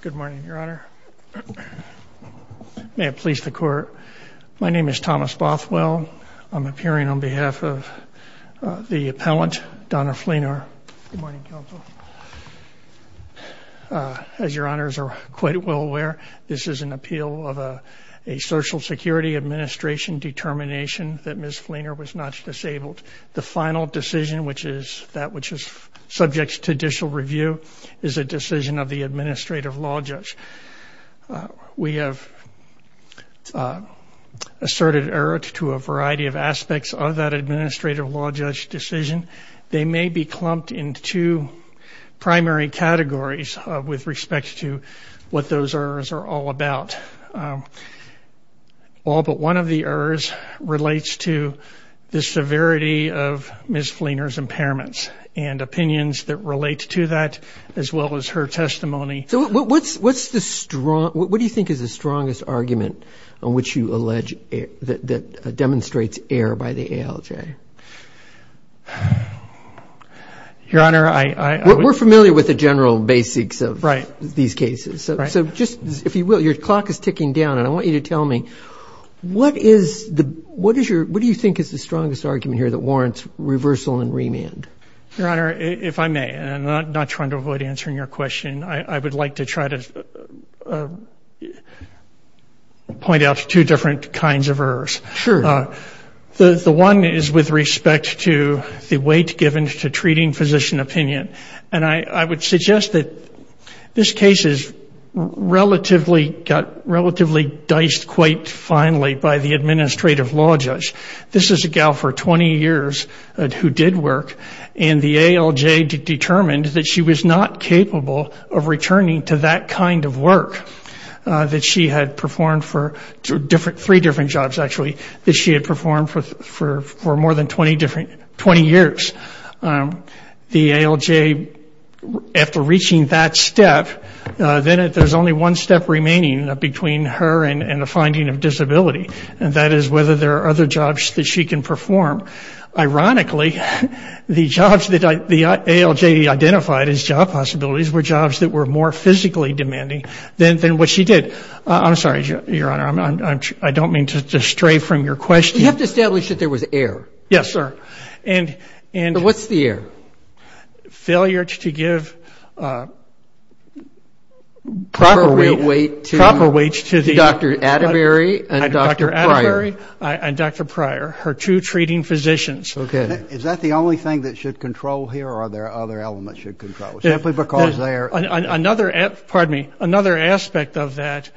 Good morning, Your Honor. May it please the Court. My name is Thomas Bothwell. I'm appearing on behalf of the appellant, Donna Fleenor. Good morning, Counsel. As Your Honors are quite well aware, this is an appeal of a Social Security Administration determination that Ms. Fleenor was not disabled. The final decision, which is that which is subject to judicial review, is a decision of the Administrative Law Judge. We have asserted error to a variety of aspects of that Administrative Law Judge decision. They may be clumped into two primary categories with respect to what those errors are all about. All but one of the errors relates to the severity of Ms. Fleenor's impairments and opinions that relate to that, as well as her testimony. So what do you think is the strongest argument on which you allege that demonstrates error by the ALJ? Your Honor, I... We're familiar with the general basics of these cases. So just, if you will, your clock is ticking down, and I want you to tell me, what is your, what do you think is the strongest argument here that warrants reversal and remand? Your Honor, if I may, and I'm not trying to avoid answering your question, I would like to try to point out two different kinds of errors. Sure. The one is with respect to the weight given to treating physician opinion. And I would suggest that this case is relatively, got relatively diced quite finely by the Administrative Law Judge. This is a gal for 20 years who did work, and the ALJ determined that she was not capable of returning to that kind of work that she had performed for three different jobs, actually, that she had performed for more than 20 years. The ALJ, after reaching that step, then there's only one step remaining between her and the finding of disability, and that is whether there are other jobs that she can perform. Ironically, the jobs that the ALJ identified as job possibilities were jobs that were more physically demanding than what she did. I'm sorry, Your Honor, I don't mean to stray from your question. We have to establish that there was error. Yes, sir. And what's the error? Failure to give proper weight to Dr. Atterbury and Dr. Pryor, her two treating physicians. Is that the only thing that should control here, or are there other elements that should control, simply because they are? Another, pardon me, another aspect of that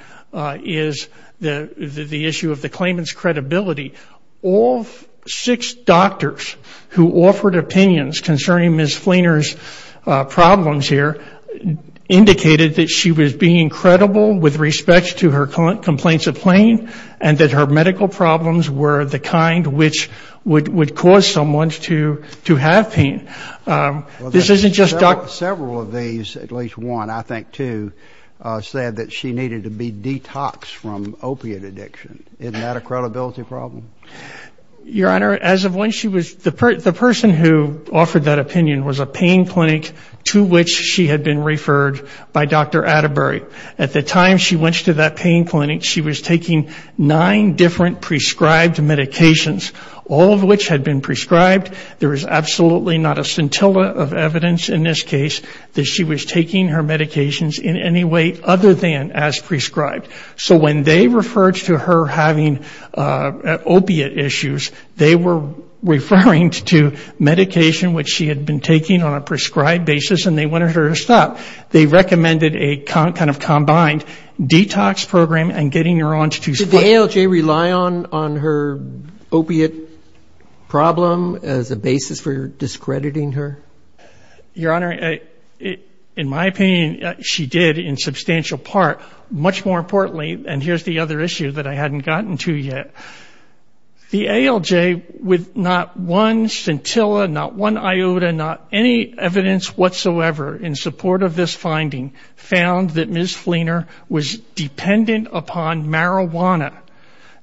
is the issue of the claimant's credibility. All six doctors who offered opinions concerning Ms. Fleener's problems here indicated that she was being credible with respect to her complaints of pain, and that her medical problems were the kind which would cause someone to have pain. This isn't just Dr. Several of these, at least one, I think two, said that she needed to be detoxed from opiate addiction. Isn't that a credibility problem? Your Honor, as of when she was, the person who offered that opinion was a pain clinic to which she had been referred by Dr. Atterbury. At the time she went to that pain clinic, she was taking nine different prescribed medications, all of which had been prescribed. There is absolutely not a scintilla of evidence in this case that she was taking her medications in any way other than as prescribed. So when they referred to her having opiate issues, they were referring to medication which she had been taking on a prescribed basis, and they wanted her to stop. They recommended a kind of combined detox program and getting her on to two... Did the ALJ rely on her opiate problem as a basis for discrediting her? Your Honor, in my opinion, she did in substantial part. Much more importantly, and here's the other issue that I hadn't gotten to yet, the ALJ, with not one scintilla, not one iota, not any evidence whatsoever in support of this finding, found that Ms. Fleener was dependent upon marijuana.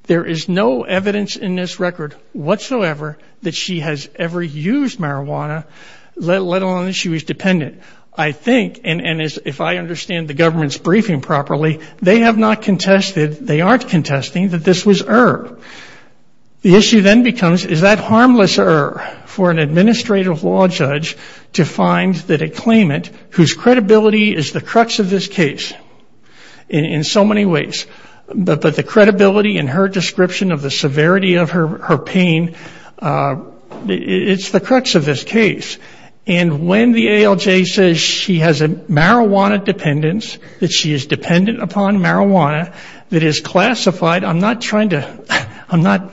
There is no evidence in this record whatsoever that she has ever used marijuana let alone that she was dependent. I think, and if I understand the government's briefing properly, they have not contested, they aren't contesting that this was her. The issue then becomes is that harmless her for an administrative law judge to find that a claimant whose credibility is the crux of this case in so many ways, but the credibility and her description of the severity of her pain, it's the crux of this case. And when the ALJ says she has a marijuana dependence, that she is dependent upon marijuana, that is classified, I'm not trying to, I'm not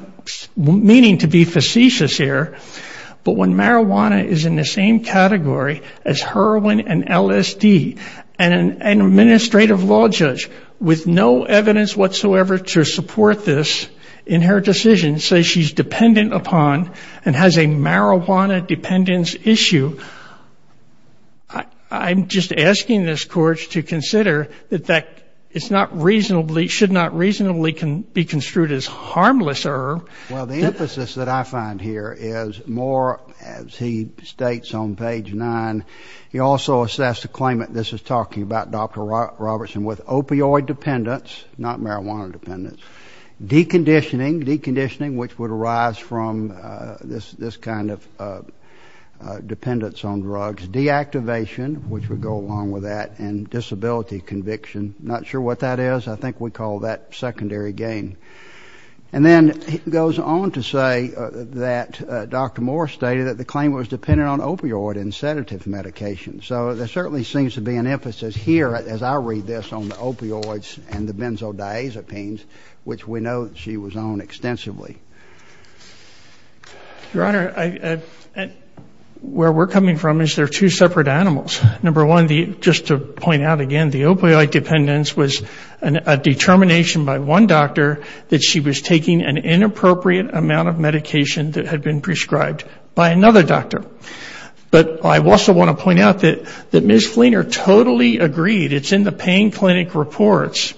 meaning to be facetious here, but when marijuana is in the same category as heroin and LSD, and an administrative law judge with no evidence whatsoever to support this in her decision says she's dependent upon and has a marijuana dependence issue, I'm just asking this Court to consider that that is not reasonably, should not reasonably can be construed as harmless her. Well, the emphasis that I find here is more, as he states on page 9, he also assessed a claimant, Dr. Robertson, with opioid dependence, not marijuana dependence, deconditioning, deconditioning, which would arise from this kind of dependence on drugs, deactivation, which would go along with that, and disability conviction, not sure what that is, I think we call that secondary gain. And then he goes on to say that Dr. Moore stated that the claimant was dependent on opioid and sedative medication, so there certainly seems to be an emphasis here, as I read this, on the opioids and the benzodiazepines, which we know she was on extensively. Your Honor, where we're coming from is they're two separate animals. Number one, just to point out again, the opioid dependence was a determination by one doctor that she was taking an inappropriate amount of medication that had been prescribed by another doctor. But I also want to point out that Ms. Fleener totally agreed, it's in the pain clinic reports,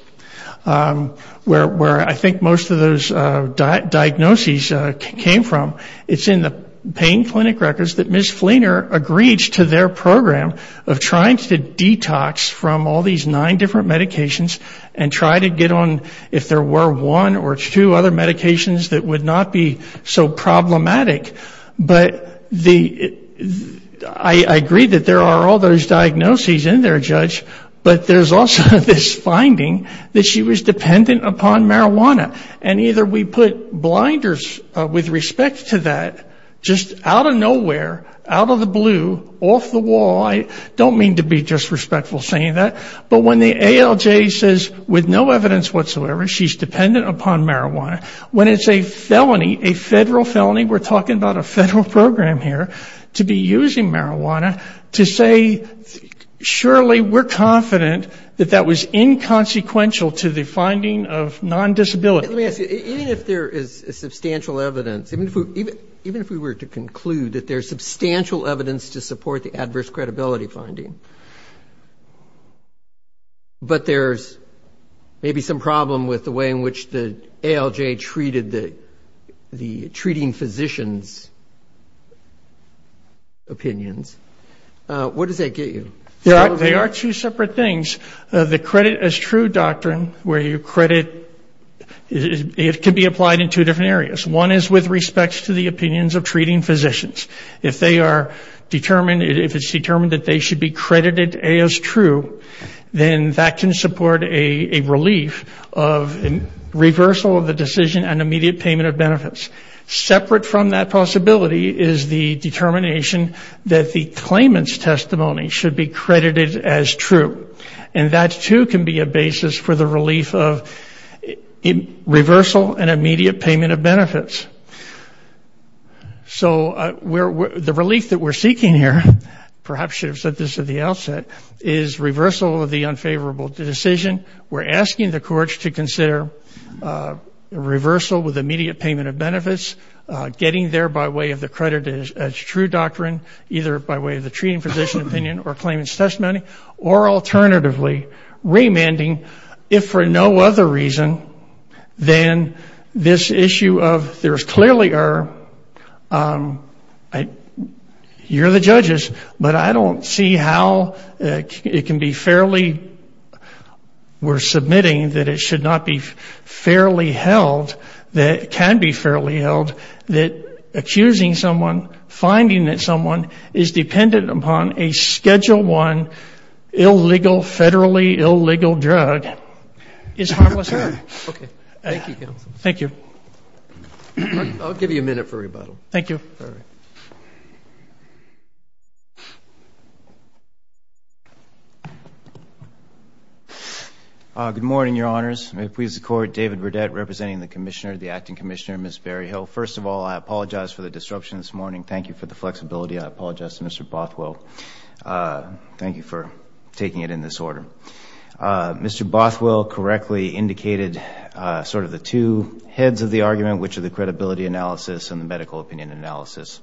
where I think most of those diagnoses came from, it's in the pain clinic records that Ms. Fleener agreed to their program of trying to detox from all these nine different medications and try to get on, if there were one or two other medications that would not be so problematic, but I agree that there are all those diagnoses in there, Judge, but there's also this finding that she was dependent upon marijuana. And either we put blinders with respect to that, just out of nowhere, out of the blue, off the wall, I don't mean to be disrespectful saying that, but when the ALJ says with no evidence whatsoever she's dependent upon marijuana, when it's a felony, a federal felony, we're talking about a federal program here, to be using marijuana, to say, surely we're confident that that was inconsequential to the finding of non-disability. Let me ask you, even if there is substantial evidence, even if we were to conclude that there's substantial evidence to support the adverse credibility finding, but there's maybe some problem with the way in which the ALJ treated the treating physicians' opinions, what does that get you? They are two separate things. The credit as true doctrine, where you credit, it can be applied in two different areas. One is with respect to the opinions of treating physicians. If they are determined, if it's determined that they should be credited as true, then that can support a relief of reversal of the decision and immediate payment of benefits. Separate from that possibility is the determination that the claimant's testimony should be credited as true. And that, too, can be a basis for the relief of reversal and immediate payment of benefits. So the relief that we're seeking here, perhaps you should have said this at the outset, is reversal of the unfavorable decision. We're asking the courts to consider reversal with immediate payment of benefits, getting there by way of the credit as true doctrine, either by way of the treating physician opinion or claimant's testimony, or alternatively, remanding if for no other reason than this issue of there is clearly error. You're the judges, but I don't see how it can be fairly, we're submitting that it should not be fairly held, that it can be fairly held, that accusing someone, finding that someone is dependent upon a Schedule I, illegal, federally illegal drug is harmless harm. Okay. Thank you, counsel. Thank you. I'll give you a minute for rebuttal. Thank you. All right. Good morning, Your Honors. May it please the Court, David Burdett, representing the Commissioner, the Acting Commissioner, Ms. Berryhill. First of all, I apologize for the disruption this morning. Thank you for the flexibility. I apologize to Mr. Bothwell. Thank you for taking it in this order. Mr. Bothwell correctly indicated sort of the two heads of the argument, which are the credibility and the total opinion analysis.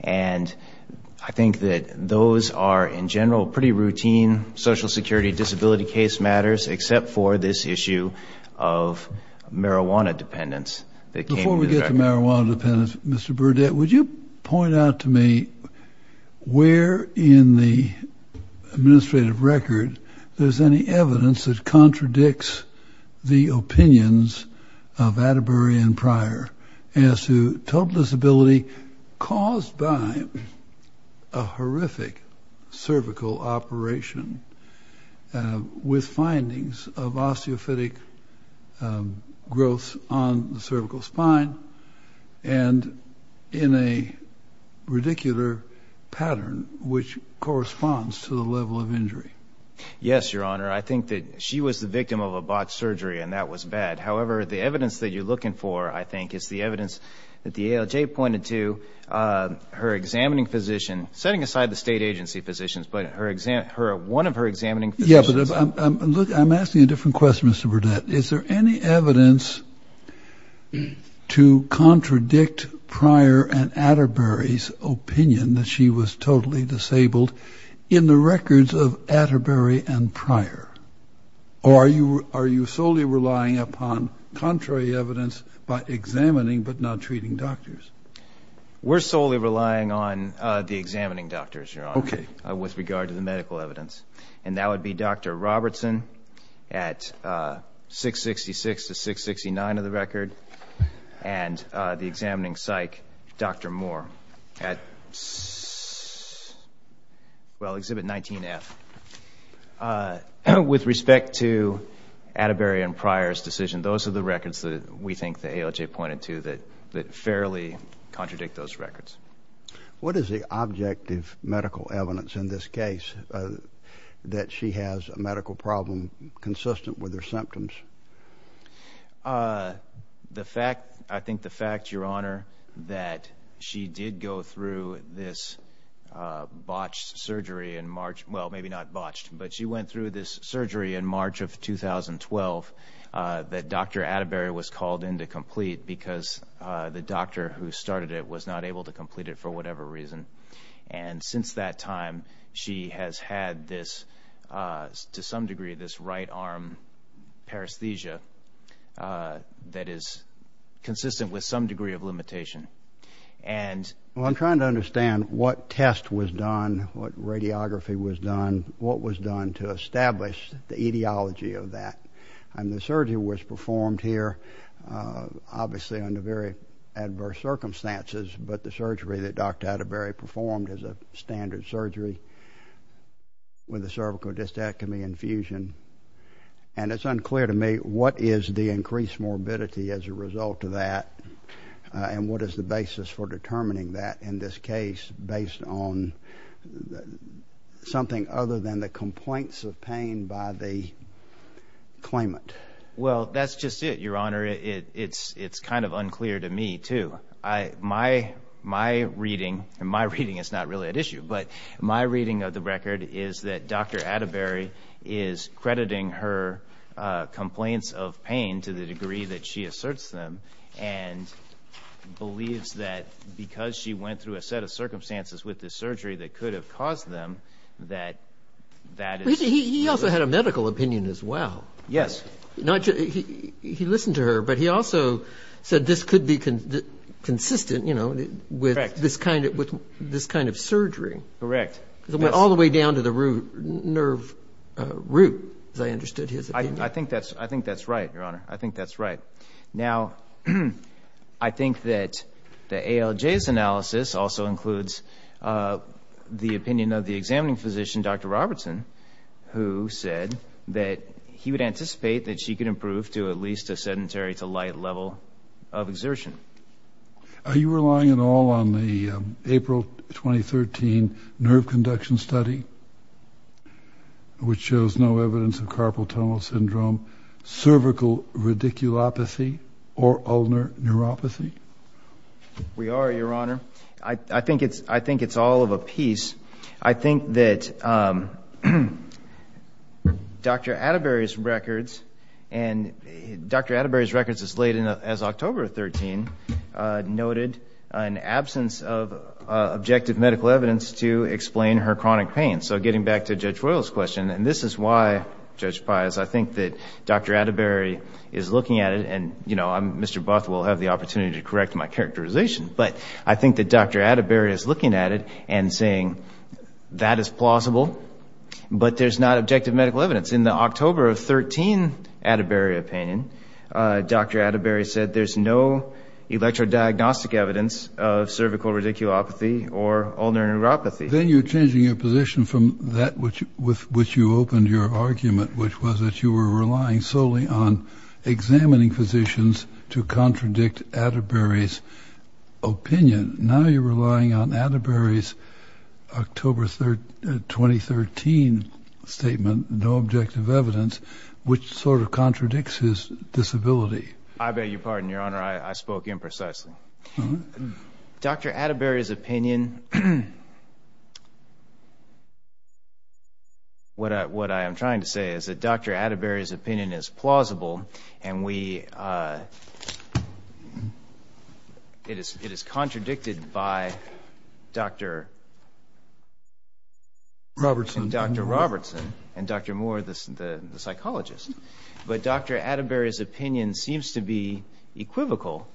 And I think that those are, in general, pretty routine Social Security disability case matters, except for this issue of marijuana dependence that came to the record. Before we get to marijuana dependence, Mr. Burdett, would you point out to me where in the administrative record there's any evidence that contradicts the opinions of Atterbury and Pryor as to total disability caused by a horrific cervical operation with findings of osteophytic growth on the cervical spine and in a radicular pattern which corresponds to the level of injury? Yes, Your Honor. I think that she was the victim of a botched surgery, and that was bad. However, the evidence that you're looking for, I think, is the evidence that the ALJ pointed to, her examining physician, setting aside the state agency physicians, but one of her examining physicians. Yes, but I'm asking a different question, Mr. Burdett. Is there any evidence to contradict Pryor and Atterbury's opinion that she was totally disabled in the records of Atterbury and Pryor? Or are you solely relying upon contrary evidence by examining but not treating doctors? We're solely relying on the examining doctors, Your Honor, with regard to the medical evidence. And that would be Dr. Robertson at 666 to 669 of the record, and the examining psych, Dr. Moore at, well, exhibit 19F. With respect to Atterbury and Pryor's decision, those are the records that we think the ALJ pointed to that fairly contradict those records. What is the objective medical evidence in this case that she has a medical problem consistent with her symptoms? Uh, the fact, I think the fact, Your Honor, that she did go through this botched surgery in March, well, maybe not botched, but she went through this surgery in March of 2012 that Dr. Atterbury was called in to complete because the doctor who started it was not able to complete it for whatever reason. And since that time, she has had this, to some degree, arm paresthesia that is consistent with some degree of limitation. Well, I'm trying to understand what test was done, what radiography was done, what was done to establish the etiology of that. And the surgery was performed here, obviously under very adverse circumstances, but the surgery that Dr. Atterbury performed is a cervical dystachyme infusion. And it's unclear to me what is the increased morbidity as a result of that and what is the basis for determining that in this case based on something other than the complaints of pain by the claimant. Well, that's just it, Your Honor. It's kind of unclear to me, too. My reading, and my understanding, is that Dr. Atterbury is crediting her complaints of pain to the degree that she asserts them and believes that because she went through a set of circumstances with this surgery that could have caused them, that that is... He also had a medical opinion as well. Yes. He listened to her, but he also said this could be consistent with this kind of surgery. Correct. All the way down to the nerve root, as I understood his opinion. I think that's right, Your Honor. I think that's right. Now, I think that the ALJ's analysis also includes the opinion of the examining physician, Dr. Robertson, who said that he would anticipate that she could improve to at least a sedentary to light level of exertion. Are you relying at all on the April 2013 nerve conduction study, which shows no evidence of carpal tunnel syndrome, cervical radiculopathy, or ulnar neuropathy? We are, Your Honor. I think it's all of a piece. I think that Dr. Atterbury's records and Dr. Atterbury's records as late as October of 2013 noted an absence of objective medical evidence to explain her chronic pain. So, getting back to Judge Royal's question, and this is why, Judge Pius, I think that Dr. Atterbury is looking at it, and Mr. Buth will have the opportunity to correct my characterization, but I think that Dr. Atterbury is looking at it and saying, that is plausible, but there's not objective medical evidence. In the October of 2013 Atterbury opinion, Dr. Atterbury said there's no electrodiagnostic evidence of cervical radiculopathy or ulnar neuropathy. Then you're changing your position from that with which you opened your argument, which was that you were relying solely on examining physicians to contradict Atterbury's opinion. Now you're relying on Atterbury's October 2013 statement, no objective evidence, which sort of contradicts his disability. I beg your pardon, Your Honor. I spoke imprecisely. Dr. Atterbury's opinion, what I am trying to say is that Dr. Atterbury's opinion is plausible, and we, it is contradictory to what was predicted by Dr. Robertson and Dr. Moore, the psychologist, but Dr. Atterbury's opinion seems to be equivocal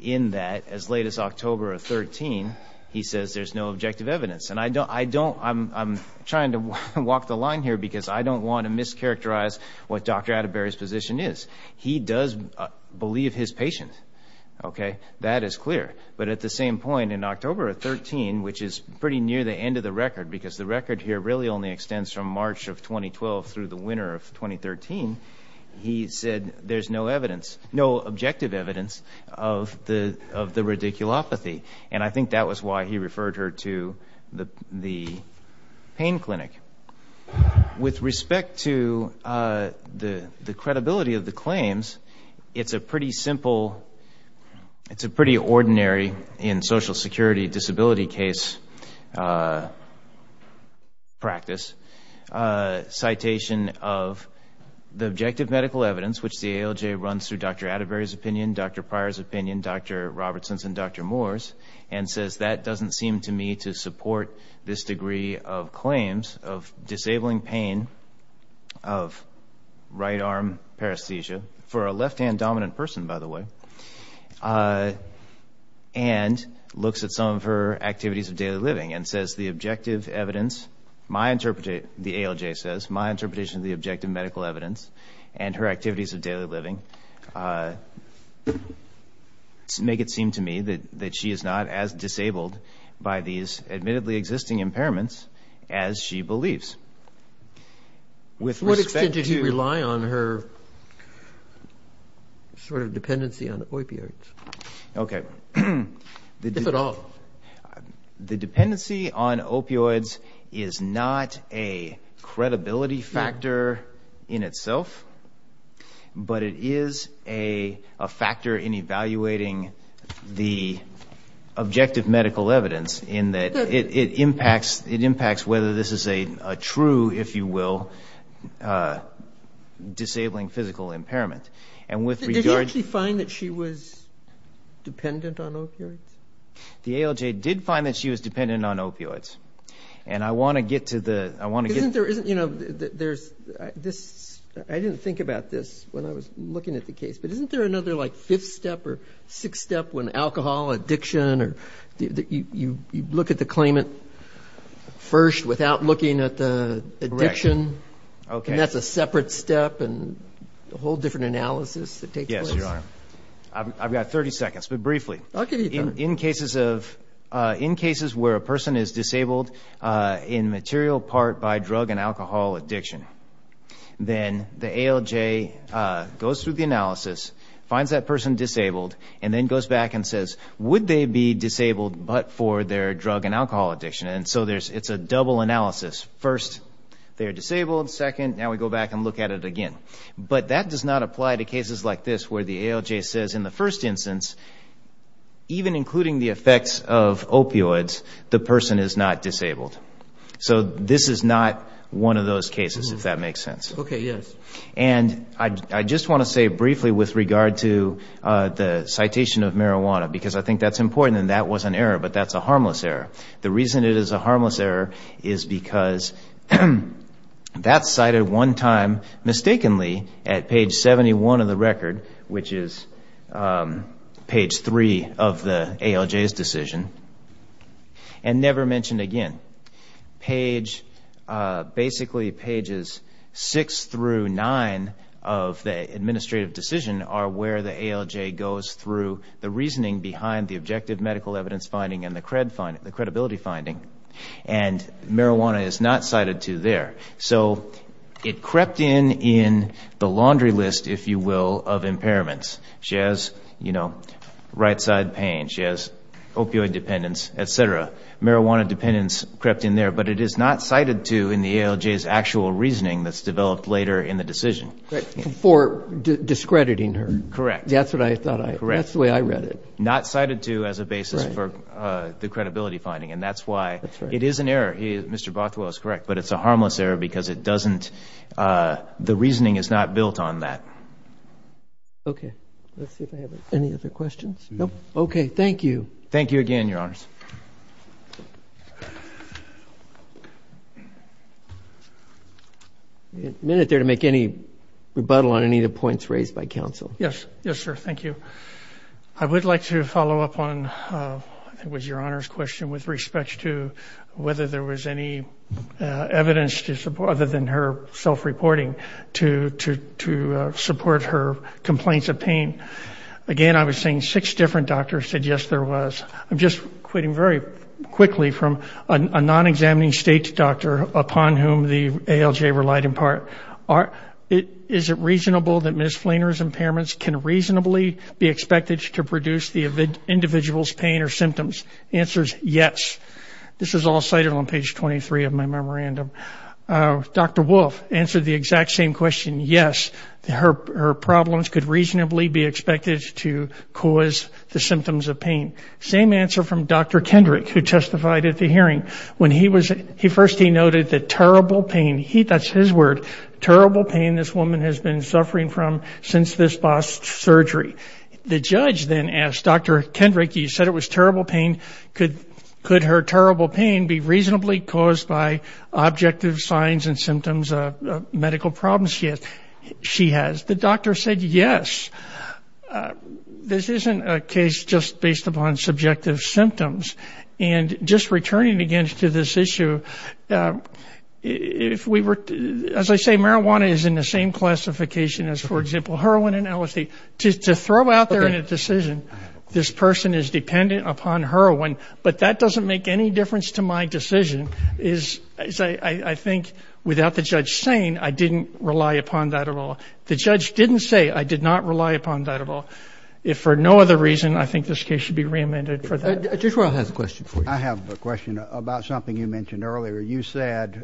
in that as late as October of 2013, he says there's no objective evidence, and I don't, I'm trying to walk the line here because I don't want to mischaracterize what Dr. Atterbury's position is. He does believe his patient, okay, that is clear, but at the same point in October of 2013, which is pretty near the end of the record because the record here really only extends from March of 2012 through the winter of 2013, he said there's no evidence, no objective evidence of the radiculopathy, and I think that was why he referred her to the pain clinic. With respect to the credibility of the claims, it's a pretty simple, it's a pretty ordinary in social security disability case practice citation of the objective medical evidence which the ALJ runs through Dr. Atterbury's opinion, Dr. Pryor's opinion, Dr. Robertson's and Dr. Moore's, and says that doesn't seem to me to support this degree of claims of disabling pain of right arm paresthesia, for a left-hand dominant person, by the way. And looks at some of her activities of daily living and says the objective evidence, my interpretation, the ALJ says, my interpretation of the objective medical evidence and her activities of daily living make it seem to me that she is not as disabled by these admittedly existing impairments as she believes. With respect to... So what extent did he rely on her sort of dependency on opioids? If at all. The dependency on opioids is not a credibility factor in itself, but it is a factor in evaluating the objective medical evidence in that it impacts whether this is a true, if you will, disabling physical impairment. And with regard... Dependent on opioids? The ALJ did find that she was dependent on opioids. And I want to get to the... I didn't think about this when I was looking at the case, but isn't there another like fifth step or sixth step when alcohol, addiction, or you look at the claimant first without looking at the addiction, and that's a separate step and a whole different analysis that takes place? Yes, you are. I've got 30 seconds, but briefly. In cases where a person is disabled in material part by drug and alcohol addiction, then the ALJ goes through the analysis, finds that person disabled, and then goes back and says, would they be disabled but for their drug and alcohol addiction? And so it's a double analysis. First they're disabled, second, now we go back and look at it again. But that does not apply to cases like this where the ALJ says in the first instance, even including the effects of opioids, the person is not disabled. So this is not one of those cases, if that makes sense. Okay, yes. And I just want to say briefly with regard to the citation of marijuana, because I think that's important and that was an error, but that's a harmless error. The reason it is a harmless error is because that's cited one time mistakenly at page 71 of the record, which is page 3 of the ALJ's decision, and never mentioned again. Basically pages 6 through 9 of the administrative decision are where the ALJ goes through the credibility finding, and marijuana is not cited to there. So it crept in in the laundry list, if you will, of impairments. She has right side pain, she has opioid dependence, et cetera. Marijuana dependence crept in there, but it is not cited to in the ALJ's actual reasoning that's developed later in the decision. For discrediting her. Correct. That's the way I read it. Not cited to as a basis for the credibility finding, and that's why it is an error. Mr. Bothwell is correct, but it's a harmless error because the reasoning is not built on that. Okay. Let's see if I have any other questions. Nope. Okay. Thank you. Thank you again, Your Honors. I didn't get a minute there to make any rebuttal on any of the points raised by counsel. Yes. Yes, sir. Thank you. I would like to follow up on, I think it was Your Honors' question with respect to whether there was any evidence to support, other than her self-reporting, to support her complaints of pain. Again, I was saying six different doctors said yes, there was. I'm just quitting very quickly from a non-examining state doctor upon whom the ALJ relied in part. Is it reasonable that Ms. Flaner's impairments can reasonably be expected to produce the individual's pain or symptoms? Answers yes. This is all cited on page 23 of my memorandum. Dr. Wolfe answered the exact same question, yes. Her problems could reasonably be expected to cause the symptoms of pain. When he was, first he noted the terrible pain, that's his word, terrible pain this woman has been suffering from since this past surgery. The judge then asked Dr. Kendrick, you said it was terrible pain, could her terrible pain be reasonably caused by objective signs and symptoms of medical problems she has? The doctor said yes. This isn't a case just based upon subjective symptoms. And just returning again to this issue, if we were, as I say, marijuana is in the same classification as, for example, heroin and LSD. To throw out there in a decision, this person is dependent upon heroin, but that doesn't make any difference to my decision, is I think without the judge saying, I didn't rely upon that at all. The judge didn't say I did not rely upon that at all. If for no other reason, I think this case should be reamended for that. Judge Royal has a question for you. I have a question about something you mentioned earlier. You said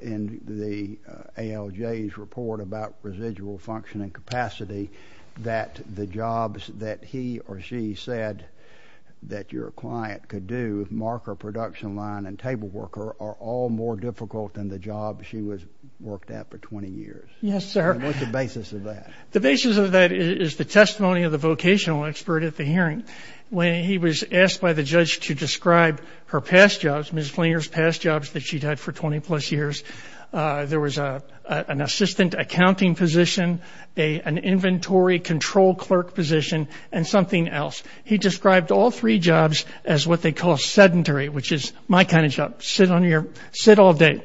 in the ALJ's report about residual functioning capacity that the jobs that he or she said that your client could do, marker production line and table worker, are all more difficult than the job she worked at for 20 years. Yes, sir. What's the basis of that? The basis of that is the testimony of the vocational expert at the hearing. When he was asked by the judge to describe her past jobs, Ms. Flinger's past jobs that she'd had for 20 plus years, there was an assistant accounting position, an inventory control clerk position, and something else. He described all three jobs as what they call sedentary, which is my kind of job. Sit on your, sit all day.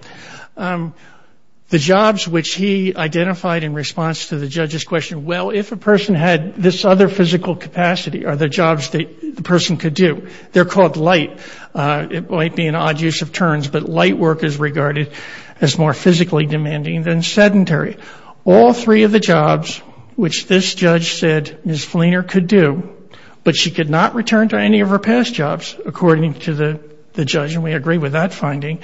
The jobs which he identified in response to the judge's question, well, if a person had this other physical capacity, are the jobs that the person could do. They're called light. It might be an odd use of terms, but light work is regarded as more physically demanding than sedentary. All three of the jobs which this judge said Ms. Flinger could do, but she could not return to any of her past jobs according to the judge, and we agree with that finding,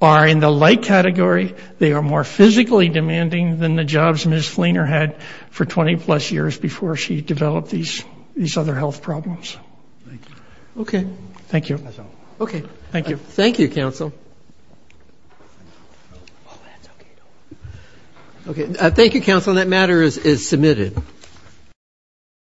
are in the light category. They are more physically demanding than the jobs Ms. Flinger had for 20 plus years before she developed these other health problems. Thank you. Okay. Thank you. That's all. Okay. Thank you. Thank you, counsel. Oh, that's okay. Don't worry. Okay. Thank you, counsel.